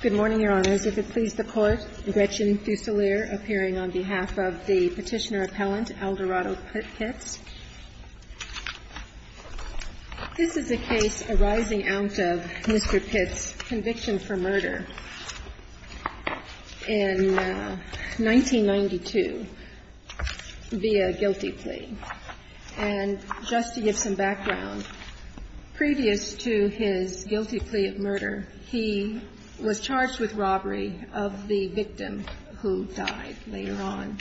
Good morning, Your Honors. If it pleases the Court, Gretchen Fusilier, appearing on behalf of the petitioner-appellant, Aldorado Pitt-Pitts. This is a case arising out of Mr. Pitt's conviction for murder in 1992 via guilty plea. And just to give some background, previous to his guilty plea of murder, he was charged with robbery of the victim who died later on.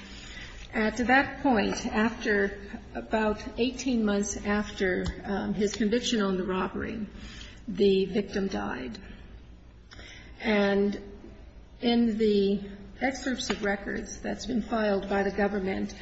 At that point, after about 18 months after his conviction on the robbery, the victim died. And in the excerpts of records that's been filed by the government,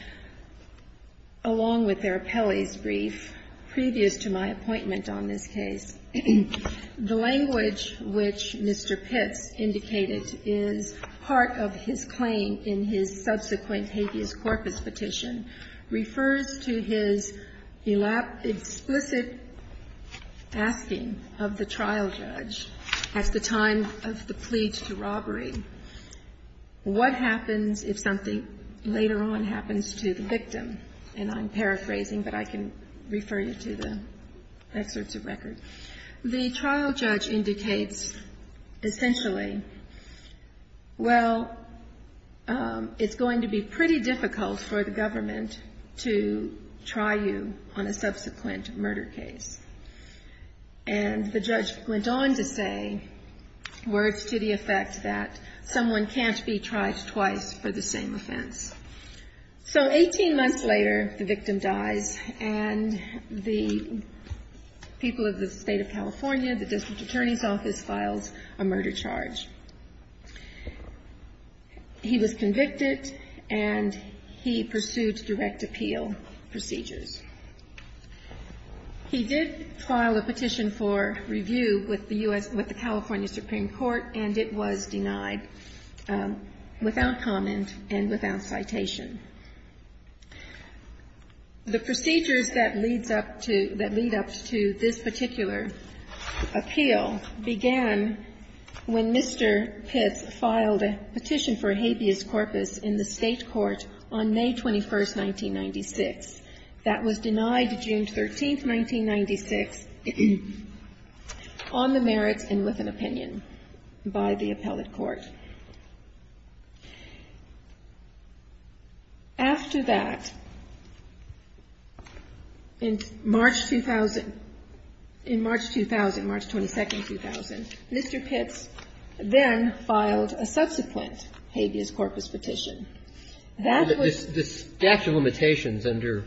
along with their appellee's brief previous to my appointment on this case, the language which Mr. Pitts indicated is part of his claim in his subsequent habeas corpus petition refers to his explicit asking of the trial judge at the time of the plea to robbery, what happens if something later on happens to the victim? And I'm paraphrasing, but I can refer you to the excerpts of records. The trial judge indicates essentially, well, it's going to be pretty difficult for the government to try you on a subsequent murder case. And the judge went on to say words to the effect that someone can't be tried twice for the same offense. So 18 months later, the victim dies, and the people of the state of California, the district attorney's office, files a murder charge. He was convicted, and he pursued direct appeal procedures. He did file a petition for review with the California Supreme Court, and it was denied without comment and without citation. The procedures that lead up to this particular appeal began when Mr. Pitts filed a petition for a habeas corpus in the state court on May 21, 1996. That was denied June 13, 1996, on the merits and with an opinion by the appellate court. After that, in March 2000, March 22, 2000, Mr. Pitts then filed a subsequent habeas corpus petition. That was the statute of limitations under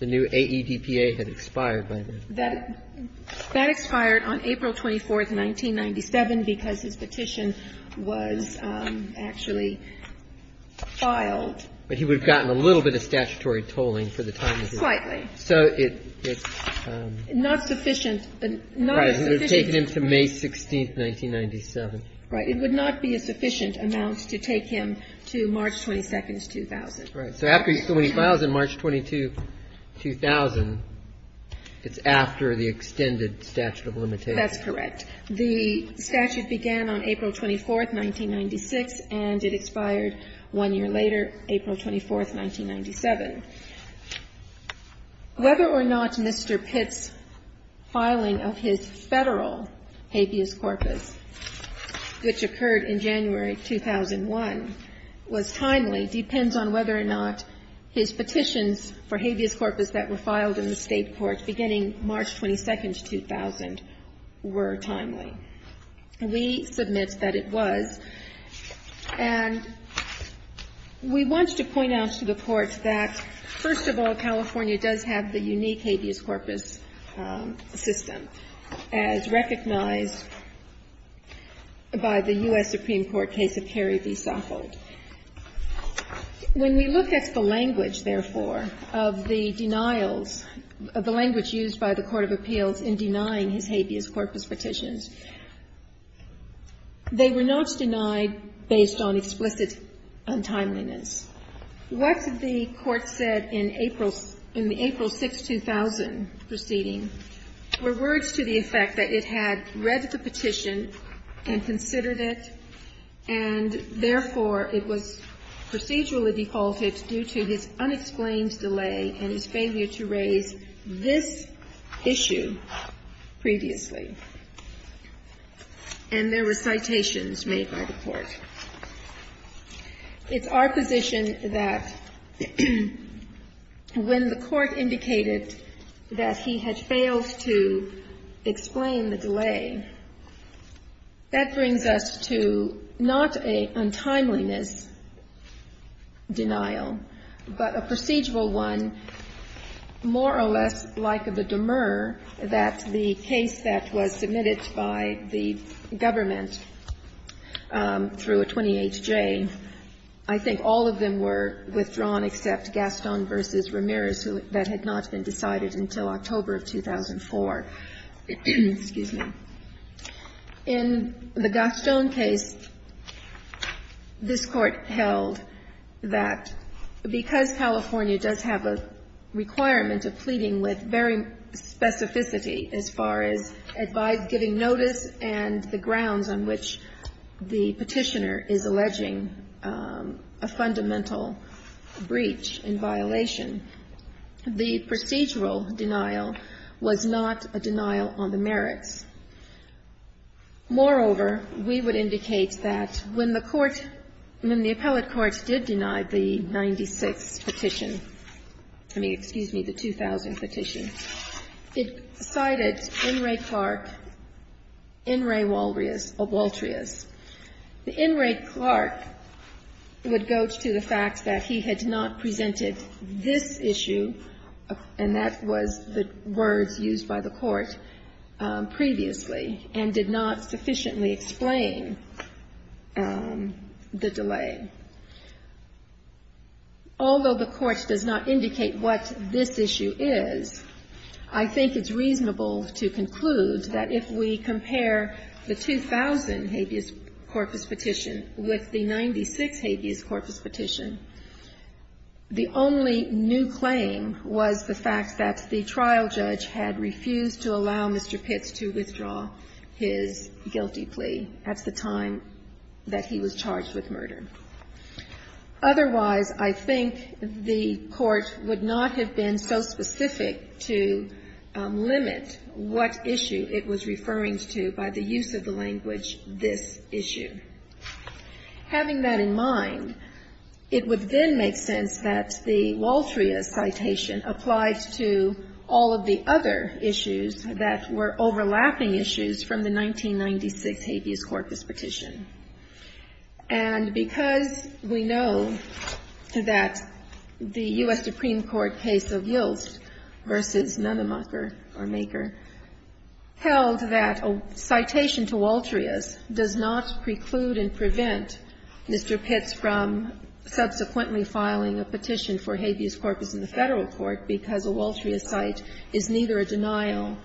the new AEDPA had expired by then. That expired on April 24, 1997, because his petition was actually filed. But he would have gotten a little bit of statutory tolling for the time he was there. Slightly. So it's not sufficient. Right. It would have taken him to May 16, 1997. Right. It would not be a sufficient amount to take him to March 22, 2000. Right. So after he files in March 22, 2000, it's after the extended statute of limitations. That's correct. The statute began on April 24, 1996, and it expired one year later, April 24, 1997. Whether or not Mr. Pitts' filing of his Federal habeas corpus, which occurred in January 2001, was timely depends on whether or not his petitions for habeas corpus that were filed in the State courts beginning March 22, 2000, were timely. We submit that it was. And we want to point out to the Court that, first of all, California does have the unique habeas corpus system, as recognized by the U.S. Supreme Court case of Kerry v. Soffold. When we look at the language, therefore, of the denials, of the language used by the State courts, we find, based on explicit untimeliness, what the Court said in the April 6, 2000 proceeding were words to the effect that it had read the petition and considered it, and therefore, it was procedurally defaulted due to his unexplained delay and his failure to raise this issue previously. And there were citations made by the Court. It's our position that when the Court indicated that he had failed to explain the delay, that brings us to not a untimeliness denial, but a procedural one, more or less like that the case that was submitted by the government through a 20HJ, I think all of them were withdrawn except Gaston v. Ramirez. That had not been decided until October of 2004. In the Gaston case, this Court held that because California does have a requirement of pleading with very specificity as far as giving notice and the grounds on which the Petitioner is alleging a fundamental breach in violation, the procedural denial was not a denial on the merits. Moreover, we would indicate that when the Court, when the appellate courts did deny the 96th Petition, I mean, excuse me, the 2000 Petition, it cited N. Ray Clark, N. Ray Waltrius. The N. Ray Clark would go to the fact that he had not presented this issue, and that was the words used by the Court previously, and did not sufficiently explain the delay. Although the Court does not indicate what this issue is, I think it's reasonable to conclude that if we compare the 2000 habeas corpus Petition with the 96th habeas corpus Petition, the only new claim was the fact that the trial judge had refused to allow Mr. Pitts to withdraw his guilty plea at the time that he was charged with murder. Otherwise, I think the Court would not have been so specific to limit what issue it was referring to by the use of the language, this issue. Having that in mind, it would then make sense that the Waltrius citation applied to all of the other issues that were overlapping issues from the 1996 habeas corpus Petition. And because we know that the U.S. Supreme Court case of Yiltz v. Nennemacher or Maker held that a citation to Waltrius does not preclude and prevent Mr. Pitts from subsequently filing a petition for habeas corpus in the Federal court because a Waltrius cite is neither a denial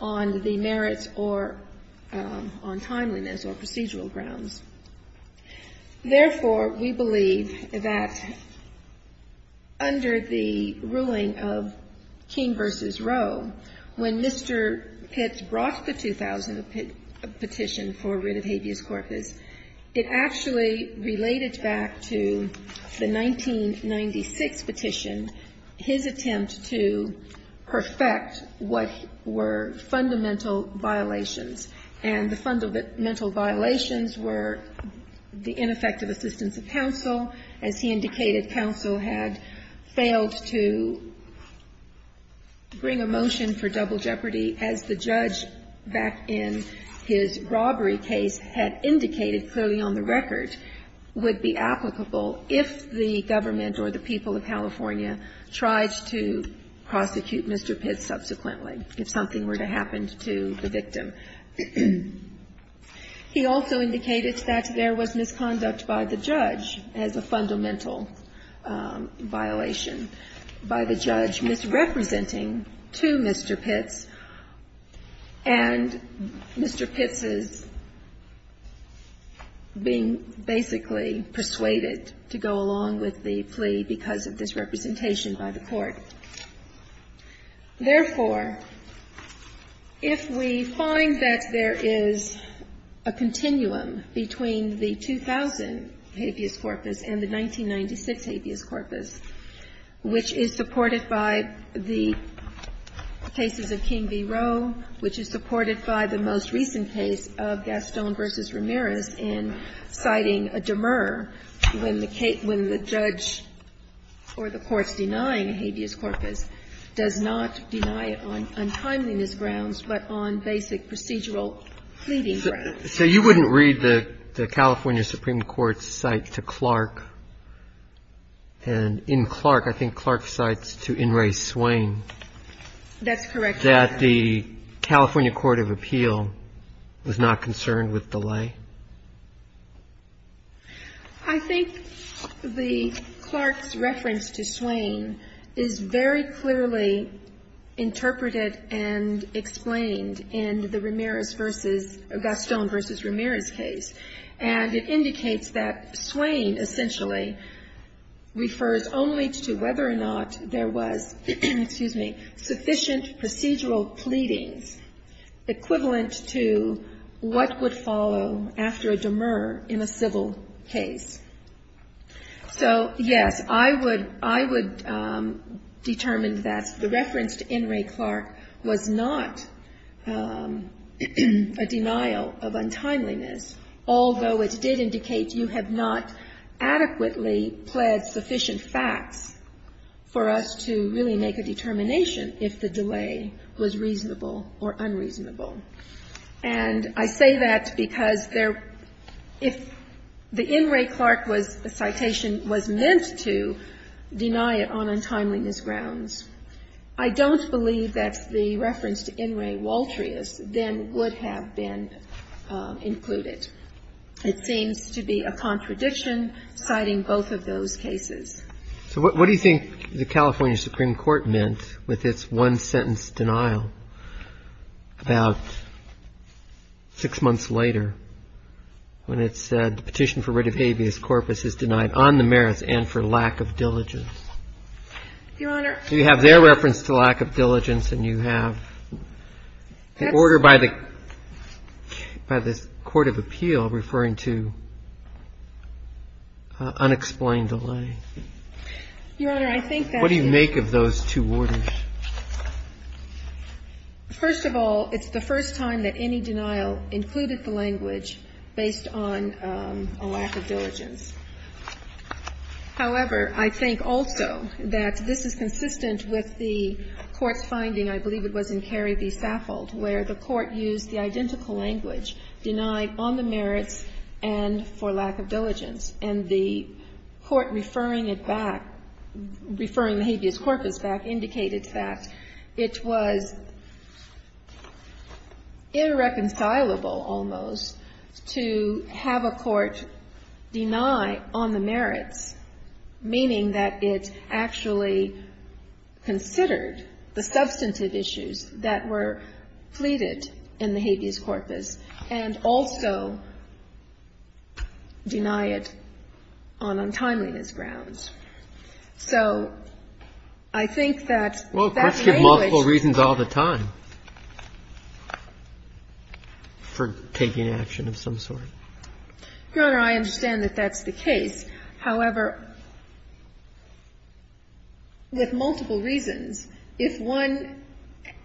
on the merits or on timeliness or procedural grounds. Therefore, we believe that under the ruling of Keene v. Roe, when Mr. Pitts brought the 2000 petition for writ of habeas corpus, it actually related back to the 1996 petition, his attempt to perfect what were fundamental violations. And the fundamental violations were the ineffective assistance of counsel. As he indicated, counsel had failed to bring a motion for double jeopardy as the judge back in his robbery case had indicated clearly on the record would be applicable if the government or the people of California tried to prosecute Mr. Pitts subsequently, if something were to happen to the victim. He also indicated that there was misconduct by the judge as a fundamental violation, by the judge misrepresenting to Mr. Pitts and Mr. Pitts' being basically persuaded to go along with the plea because of this representation by the court. Therefore, if we find that there is a continuum between the 2000 habeas corpus and the 2006 habeas corpus, which is supported by the cases of Keene v. Roe, which is supported by the most recent case of Gaston v. Ramirez in citing a demur when the judge or the courts denying a habeas corpus does not deny it on untimeliness grounds but on basic procedural pleading grounds. And so you wouldn't read the California Supreme Court's cite to Clark and in Clark, I think Clark cites to In re Swain. That's correct. That the California Court of Appeal was not concerned with delay. I think the Clark's reference to Swain is very clearly interpreted and explained in the Ramirez v. Gaston v. Ramirez case. And it indicates that Swain essentially refers only to whether or not there was sufficient procedural pleadings equivalent to what would follow after a demur in a civil case. So, yes, I would determine that the reference to In re Clark was not a denial of untimeliness, although it did indicate you have not adequately pled sufficient facts for us to really make a determination if the delay was reasonable or unreasonable. And I say that because if the In re Clark citation was meant to deny it on untimeliness grounds, I don't believe that the reference to In re Waltrius then would have been included. It seems to be a contradiction citing both of those cases. So what do you think the California Supreme Court meant with its one-sentence denial about six months later when it said the petition for writ of habeas corpus is denied on the merits and for lack of diligence? So you have their reference to lack of diligence and you have the order by the Court of Appeal referring to unexplained delay. Your Honor, I think that is What do you make of those two orders? First of all, it's the first time that any denial included the language based on a lack of diligence. However, I think also that this is consistent with the Court's finding, I believe it was in Carey v. Saffold, where the Court used the identical language, denied on the merits and for lack of diligence. And the Court referring it back, referring the habeas corpus back, indicated that it was irreconcilable almost to have a Court deny on the merits, meaning that it actually considered the substantive issues that were pleaded in the habeas corpus and also deny it on untimeliness grounds. So I think that that language Well, courts give multiple reasons all the time for taking action of some sort. Your Honor, I understand that that's the case. However, with multiple reasons, if one,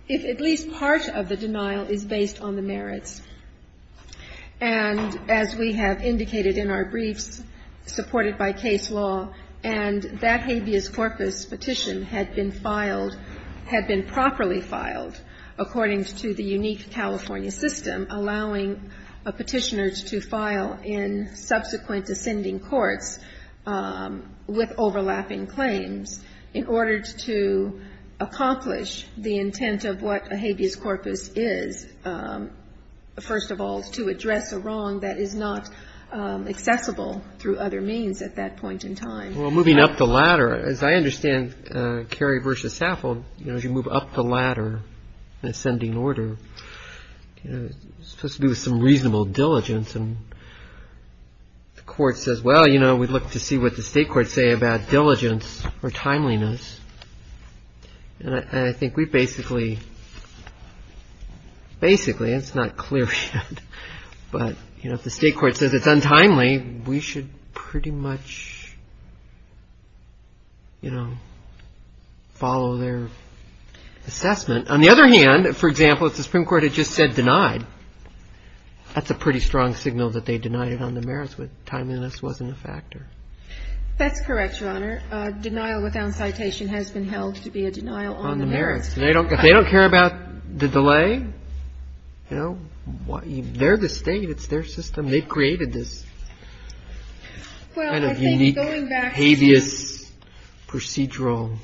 if at least part of the denial is based on the merits, and as we have indicated in our briefs, supported by case law, and that habeas corpus petition had been filed, had been properly filed, according to the unique California system, allowing a petitioner to file in subsequent ascending courts with overlapping claims in order to accomplish the intent of what a habeas corpus is, first of all, to address a wrong that is not accessible through other means at that point in time. Well, moving up the ladder, as I understand, Cary v. Saffold, as you move up the ladder in ascending order, it's supposed to do with some reasonable diligence. And the Court says, well, you know, we'd like to see what the State Court say about diligence or timeliness. And I think we basically have to look at the merits, and we should pretty much, you know, follow their assessment. On the other hand, for example, if the Supreme Court had just said denied, that's a pretty strong signal that they denied it on the merits, but timeliness wasn't a factor. That's correct, Your Honor. Denial without citation has been held to be a denial on the merits. On the merits. They don't care about the delay. You know, they're the State. It's their system. They created this kind of unique habeas procedural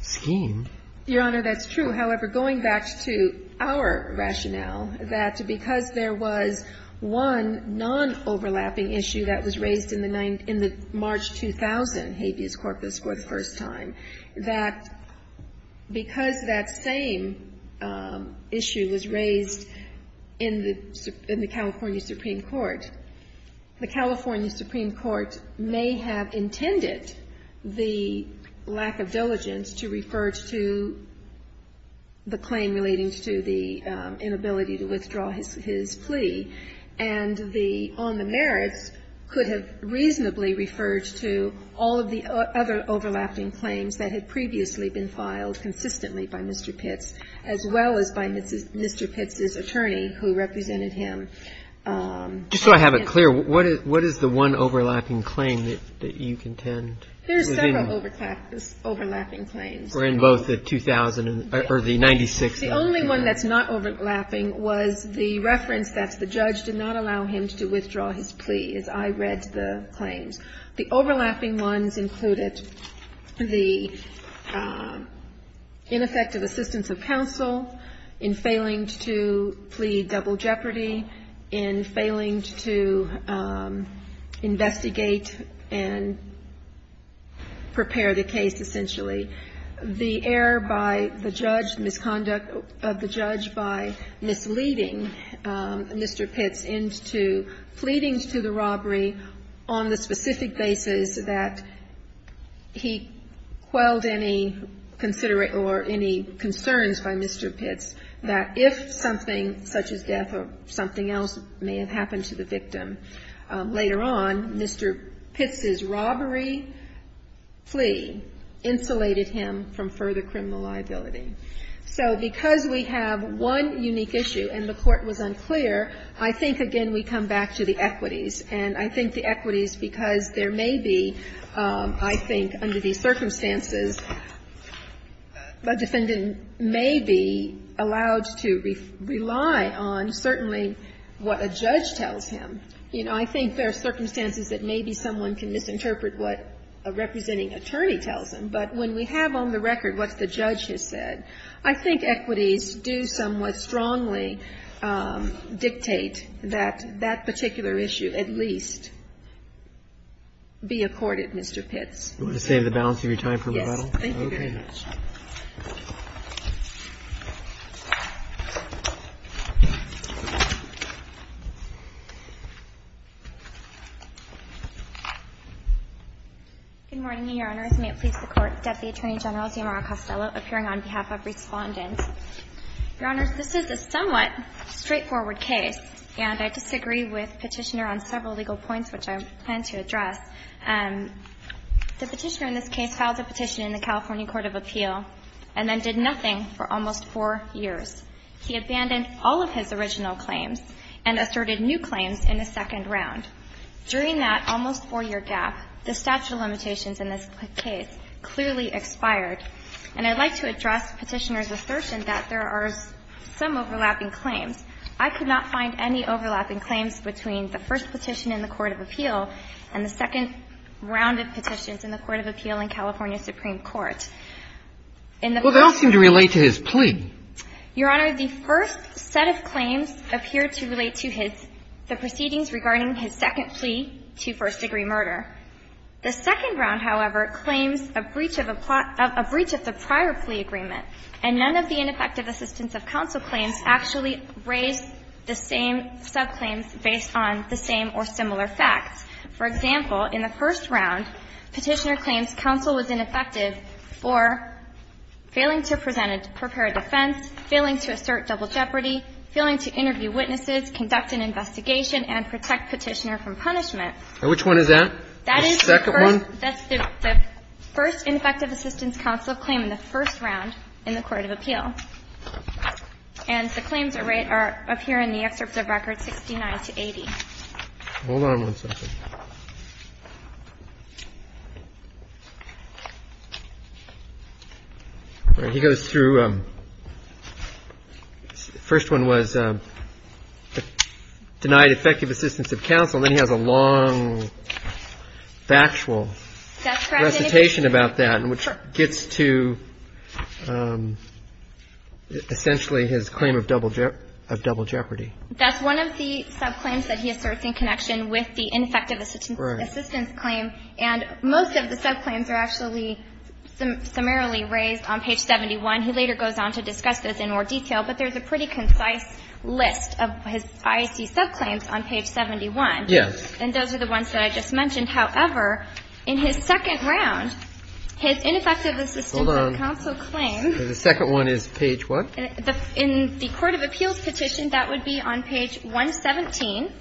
scheme. Your Honor, that's true. However, going back to our rationale, that because there was one non-overlapping issue that was raised in the March 2000 habeas corpus for the first time, that because that same issue was raised in the California Supreme Court, the California Supreme Court may have intended the lack of diligence to refer to the claim relating to the inability to withdraw his plea. And the on the merits could have reasonably referred to all of the other overlapping claims that had previously been filed consistently by Mr. Pitts, as well as by Mr. Pitts's attorney who represented him. Just so I have it clear, what is the one overlapping claim that you contend? There are several overlapping claims. Or in both the 2000 or the 96? The only one that's not overlapping was the reference that the judge did not allow him to withdraw his plea, as I read the claims. The overlapping ones included the ineffective assistance of counsel in failing to plea double jeopardy, in failing to investigate and prepare the case, essentially. The error by the judge, the misconduct of the judge by misleading Mr. Pitts into pleading to the robbery on the specific basis that he quelled any consideration or any concerns by Mr. Pitts, that if something such as death or something else may have happened to the victim, later on, Mr. Pitts's robbery plea insulated him from further criminal liability. So because we have one unique issue, and the Court was unclear, I think, again, we come back to the equities. And I think the equities, because there may be, I think, under these circumstances, a defendant may be allowed to rely on certainly what a judge tells him. You know, I think there are circumstances that maybe someone can misinterpret what a representing attorney tells them. But when we have on the record what the judge has said, I think equities do somewhat strongly dictate that that particular issue at least be accorded, Mr. Pitts. Do you want to save the balance of your time for rebuttal? Yes, thank you very much. Good morning, Your Honors. May it please the Court. Deputy Attorney General Zamarra Costello appearing on behalf of Respondent. Your Honors, this is a somewhat straightforward case, and I disagree with Petitioner on several legal points which I plan to address. The Petitioner in this case filed a petition in the California Court of Appeal and then did nothing for almost four years. He abandoned all of his original claims and asserted new claims in the second round. During that almost four-year gap, the statute of limitations in this case clearly expired. And I'd like to address Petitioner's assertion that there are some overlapping claims. I could not find any overlapping claims between the first petition in the Court of Appeal and the second round of petitions in the Court of Appeal in California Supreme Court. Well, they all seem to relate to his plea. Your Honor, the first set of claims appear to relate to his the proceedings regarding his second plea to first-degree murder. The second round, however, claims a breach of the prior plea agreement, and none of the ineffective assistance of counsel claims actually raise the same subclaims on the same or similar facts. For example, in the first round, Petitioner claims counsel was ineffective for failing to present a prepared defense, failing to assert double jeopardy, failing to interview witnesses, conduct an investigation, and protect Petitioner from punishment. And which one is that? The second one? That is the first ineffective assistance counsel claim in the first round in the Court of Appeal. And the claims are up here in the excerpts of records 69 to 80. Hold on one second. All right. He goes through the first one was denied effective assistance of counsel. Then he has a long factual recitation about that. And then he goes through the second one, which gets to essentially his claim of double jeopardy. That's one of the subclaims that he asserts in connection with the ineffective assistance claim. And most of the subclaims are actually summarily raised on page 71. He later goes on to discuss those in more detail. But there's a pretty concise list of his IAC subclaims on page 71. Yes. And those are the ones that I just mentioned. However, in his second round, his ineffective assistance of counsel claim. Hold on. The second one is page what? In the Court of Appeals petition, that would be on page 117.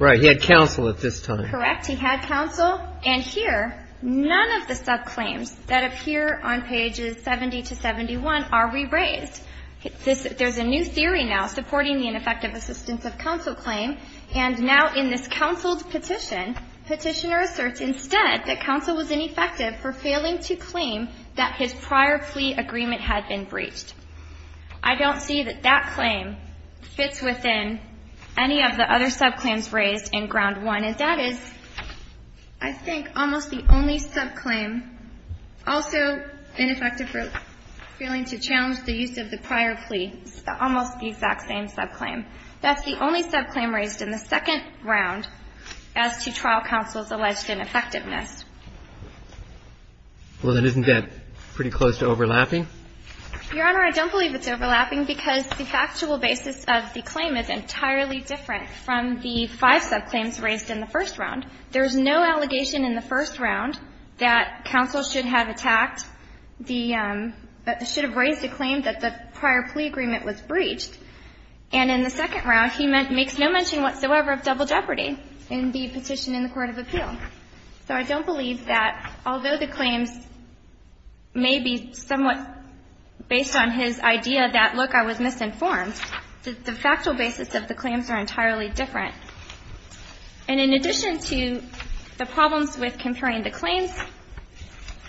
Right. He had counsel at this time. Correct. He had counsel. And here, none of the subclaims that appear on pages 70 to 71 are re-raised. There's a new theory now supporting the ineffective assistance of counsel claim. And now in this counsel petition, petitioner asserts instead that counsel was ineffective for failing to claim that his prior plea agreement had been breached. I don't see that that claim fits within any of the other subclaims raised in ground one. And that is, I think, almost the only subclaim also ineffective for failing to challenge the use of the prior plea. It's almost the exact same subclaim. That's the only subclaim raised in the second round as to trial counsel's alleged ineffectiveness. Well, then isn't that pretty close to overlapping? Your Honor, I don't believe it's overlapping because the factual basis of the claim is entirely different from the five subclaims raised in the first round. There's no allegation in the first round that counsel should have attacked the – should have raised a claim that the prior plea agreement was breached. And in the second round, he makes no mention whatsoever of double jeopardy in the petition in the court of appeal. So I don't believe that although the claims may be somewhat based on his idea that, look, I was misinformed, that the factual basis of the claims are entirely different. And in addition to the problems with comparing the claims,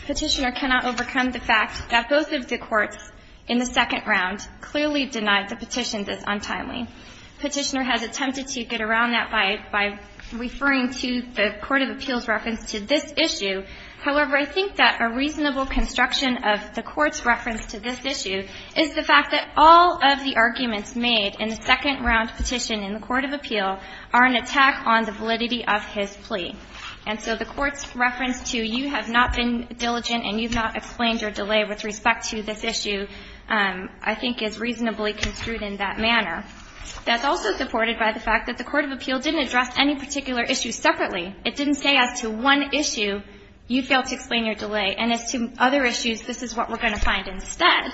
Petitioner cannot overcome the fact that both of the courts in the second round clearly denied the petition this untimely. Petitioner has attempted to get around that by referring to the court of appeal's reference to this issue. However, I think that a reasonable construction of the court's reference to this issue is the fact that all of the arguments made in the second round petition in the court of appeal are an attack on the validity of his plea. And so the court's reference to, you have not been diligent and you've not explained your delay with respect to this issue, I think, is reasonably construed in that manner. That's also supported by the fact that the court of appeal didn't address any particular issue separately. It didn't say as to one issue, you failed to explain your delay, and as to other issues, this is what we're going to find instead.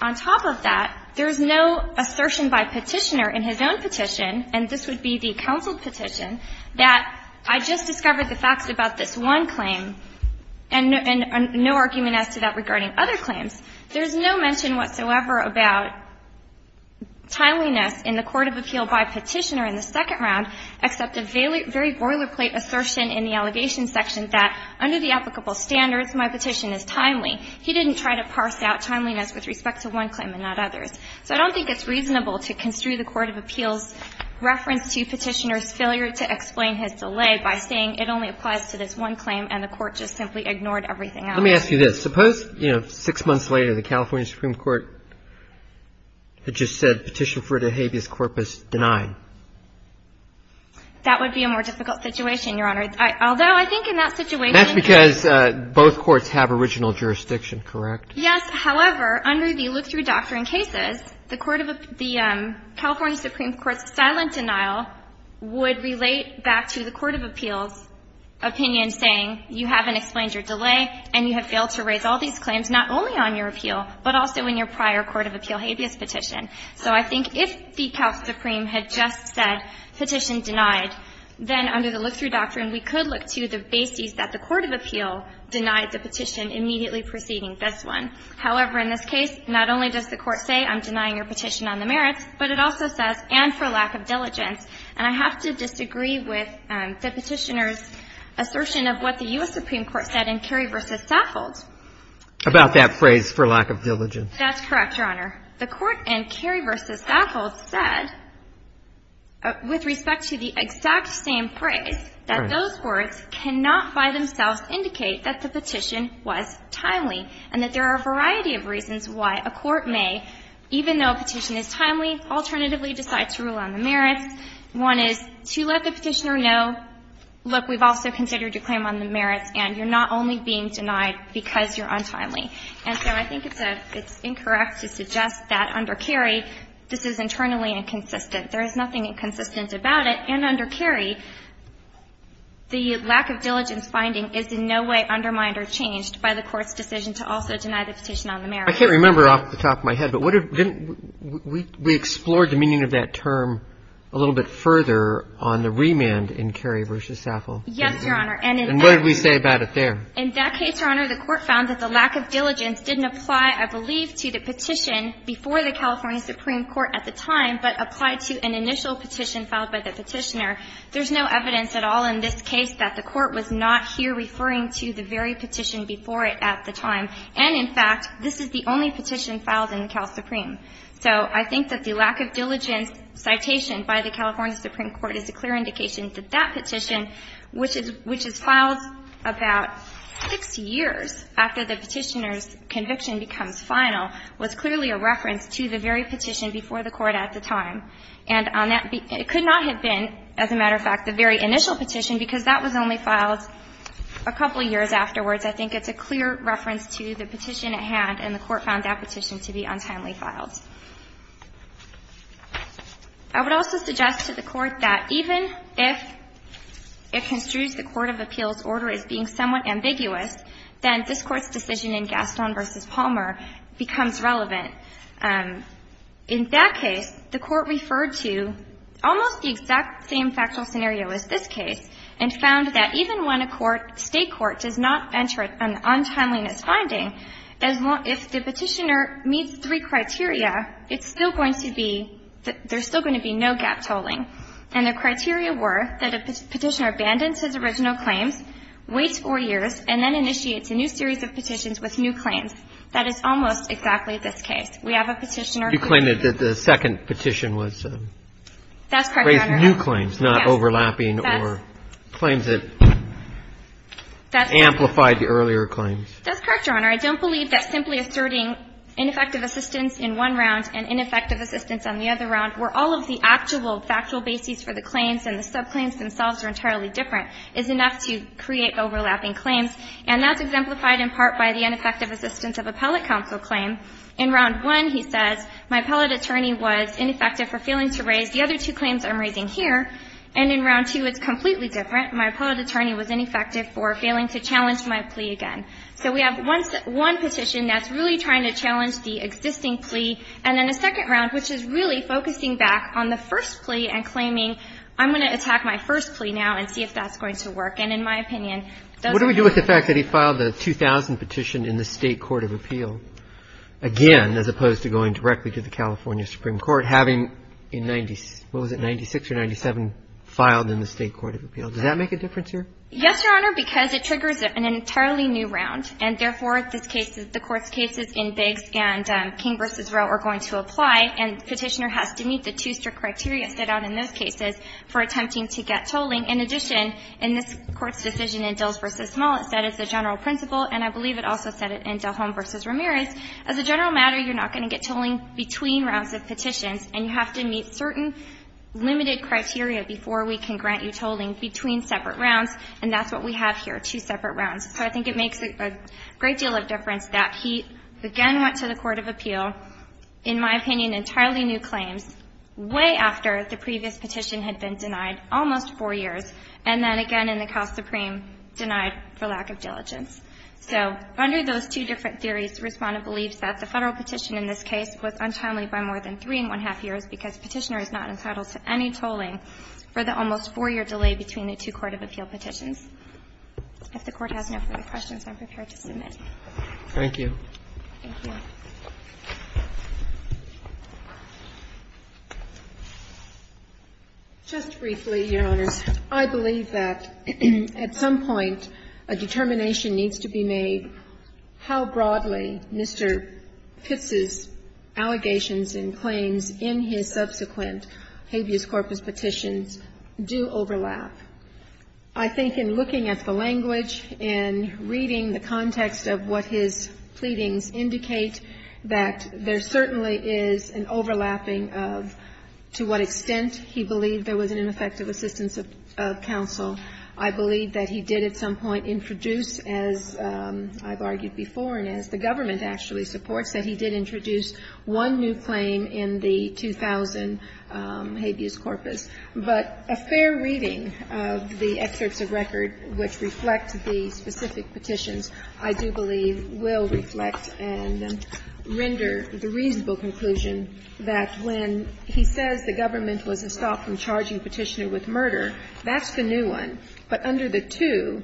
On top of that, there's no assertion by Petitioner in his own petition, and this would be the counsel petition, that I just discovered the facts about this one claim and no argument as to that regarding other claims. There's no mention whatsoever about timeliness in the court of appeal by Petitioner in the second round, except a very boilerplate assertion in the allegation section that under the applicable standards, my petition is timely. He didn't try to parse out timeliness with respect to one claim and not others. So I don't think it's reasonable to construe the court of appeal's reference to Petitioner's failure to explain his delay by saying it only applies to this one claim and the court just simply ignored everything else. Let me ask you this. Suppose, you know, six months later, the California Supreme Court had just said Petition for De Habeas Corpus denied. That would be a more difficult situation, Your Honor, although I think in that situation That's because both courts have original jurisdiction, correct? Yes, however, under the look-through doctrine cases, the California Supreme Court's silent denial would relate back to the court of appeals' opinion saying you haven't explained your delay and you have failed to raise all these claims not only on your appeal, but also in your prior court of appeal habeas petition. So I think if the Cal Supreme had just said petition denied, then under the look-through doctrine, we could look to the basis that the court of appeal denied the petition immediately preceding this one. However, in this case, not only does the Court say I'm denying your petition on the merits, but it also says and for lack of diligence. And I have to disagree with the Petitioner's assertion of what the U.S. Supreme Court said in Carey v. Saffold. About that phrase, for lack of diligence. That's correct, Your Honor. The Court in Carey v. Saffold said, with respect to the exact same phrase, that those courts cannot by themselves indicate that the petition was timely, and that there are a variety of reasons why a court may, even though a petition is timely, alternatively decide to rule on the merits. One is to let the Petitioner know, look, we've also considered your claim on the merits, and you're not only being denied because you're untimely. And so I think it's a — it's incorrect to suggest that under Carey, this is internally inconsistent. There is nothing inconsistent about it. And under Carey, the lack of diligence finding is in no way undermined or changed by the Court's decision to also deny the petition on the merits. I can't remember off the top of my head, but what if — didn't we explore the meaning of that term a little bit further on the remand in Carey v. Saffold? Yes, Your Honor, and in that case — And what did we say about it there? In that case, Your Honor, the Court found that the lack of diligence didn't apply, I believe, to the petition before the California Supreme Court at the time, but applied to an initial petition filed by the Petitioner. There's no evidence at all in this case that the Court was not here referring to the very petition before it at the time. And, in fact, this is the only petition filed in the Cal Supreme. So I think that the lack of diligence citation by the California Supreme Court is a clear indication that that petition, which is — which is filed about six years after the Petitioner's conviction becomes final, was clearly a reference to the very petition before the Court at the time. And on that — it could not have been, as a matter of fact, the very initial petition, because that was only filed a couple of years afterwards. I think it's a clear reference to the petition at hand, and the Court found that petition to be untimely filed. I would also suggest to the Court that even if it construes the court of appeals order as being somewhat ambiguous, then this Court's decision in Gaston v. Palmer becomes relevant. In that case, the Court referred to almost the exact same factual scenario as this case and found that even when a court — State court does not enter an untimeliness finding, if the Petitioner meets three criteria, it's still going to be — there's still going to be no gap tolling. And the criteria were that a Petitioner abandons his original claims, waits four years, and then initiates a new series of petitions with new claims. That is almost exactly this case. We have a Petitioner who — You claim that the second petition was — That's correct, Your Honor. — raised new claims, not overlapping or claims that amplified the earlier claims. That's correct, Your Honor. I don't believe that simply asserting ineffective assistance in one round and ineffective assistance on the other round, where all of the actual factual bases for the claims and the subclaims themselves are entirely different, is enough to create overlapping claims, and that's exemplified in part by the ineffective assistance of appellate counsel claim. In round one, he says, my appellate attorney was ineffective for failing to raise the other two claims I'm raising here, and in round two it's completely different. My appellate attorney was ineffective for failing to challenge my plea again. So we have one petition that's really trying to challenge the existing plea, and then a second round which is really focusing back on the first plea and claiming, I'm going to attack my first plea now and see if that's going to work. And in my opinion, it doesn't. What do we do with the fact that he filed the 2000 petition in the State Court of Appeal again, as opposed to going directly to the California Supreme Court, having in 96 or 97 filed in the State Court of Appeal? Does that make a difference here? Yes, Your Honor, because it triggers an entirely new round, and therefore, this case is the court's cases in Biggs and King v. Rowe are going to apply, and the petitioner has to meet the two-strip criteria set out in those cases for attempting to get tolling. In addition, in this Court's decision in Dills v. Smollett, that is the general principle, and I believe it also said it in Dillholm v. Ramirez, as a general matter, you're not going to get tolling between rounds of petitions, and you have to meet certain limited criteria before we can grant you tolling between separate rounds, and that's what we have here, two separate rounds. So I think it makes a great deal of difference that he again went to the court of appeal, in my opinion, entirely new claims, way after the previous petition had been denied almost four years, and then again in the Cal Supreme denied for lack of diligence. So under those two different theories, Respondent believes that the Federal petition in this case was untimely by more than three and one-half years because the petitioner is not entitled to any tolling for the almost four-year delay between the two court of appeal petitions. If the Court has no further questions, I'm prepared to submit. Roberts. Thank you. Just briefly, Your Honors, I believe that at some point a determination needs to be made how broadly Mr. Pitz's allegations and claims in his subsequent habeas corpus petitions do overlap. I think in looking at the language, in reading the context of what his pleadings indicate, that there certainly is an overlapping of to what extent he believed there was an ineffective assistance of counsel. I believe that he did at some point introduce, as I've argued before and as the government actually supports, that he did introduce one new claim in the 2000 habeas corpus. But a fair reading of the excerpts of record which reflect the specific petitions, I do believe will reflect and render the reasonable conclusion that when he says the government was a stop in charging the petitioner with murder, that's the new one. But under the two,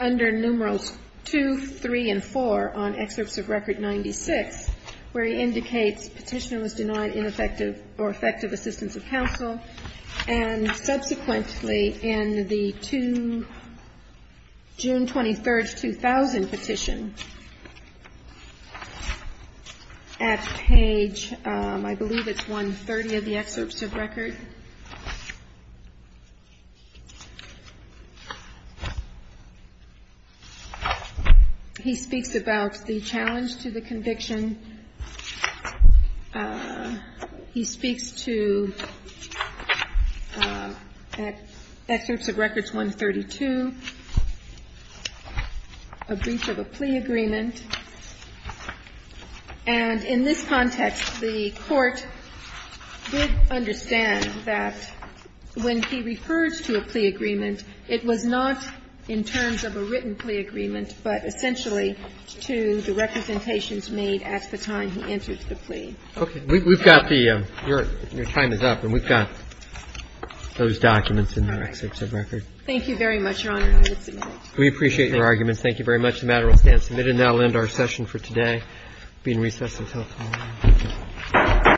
under numerals 2, 3, and 4 on excerpts of record 96, where he indicates petitioner was denied ineffective or effective assistance of counsel, and subsequently in the two June 23, 2000 petition at page, I believe it's 130 of the excerpts of record. He speaks about the challenge to the conviction. He speaks to excerpts of records 132, a brief of a plea agreement. And in this context, the Court did understand that when he refers to a plea agreement, it was not in terms of a written plea agreement, but essentially to the representations made at the time he entered the plea. Okay. We've got the ‑‑ your time is up, and we've got those documents in the excerpts of record. Thank you very much, Your Honor. I will submit it. We appreciate your arguments. Thank you very much. The matter will stand submitted. And that will end our session for today. We're being recessed until tomorrow.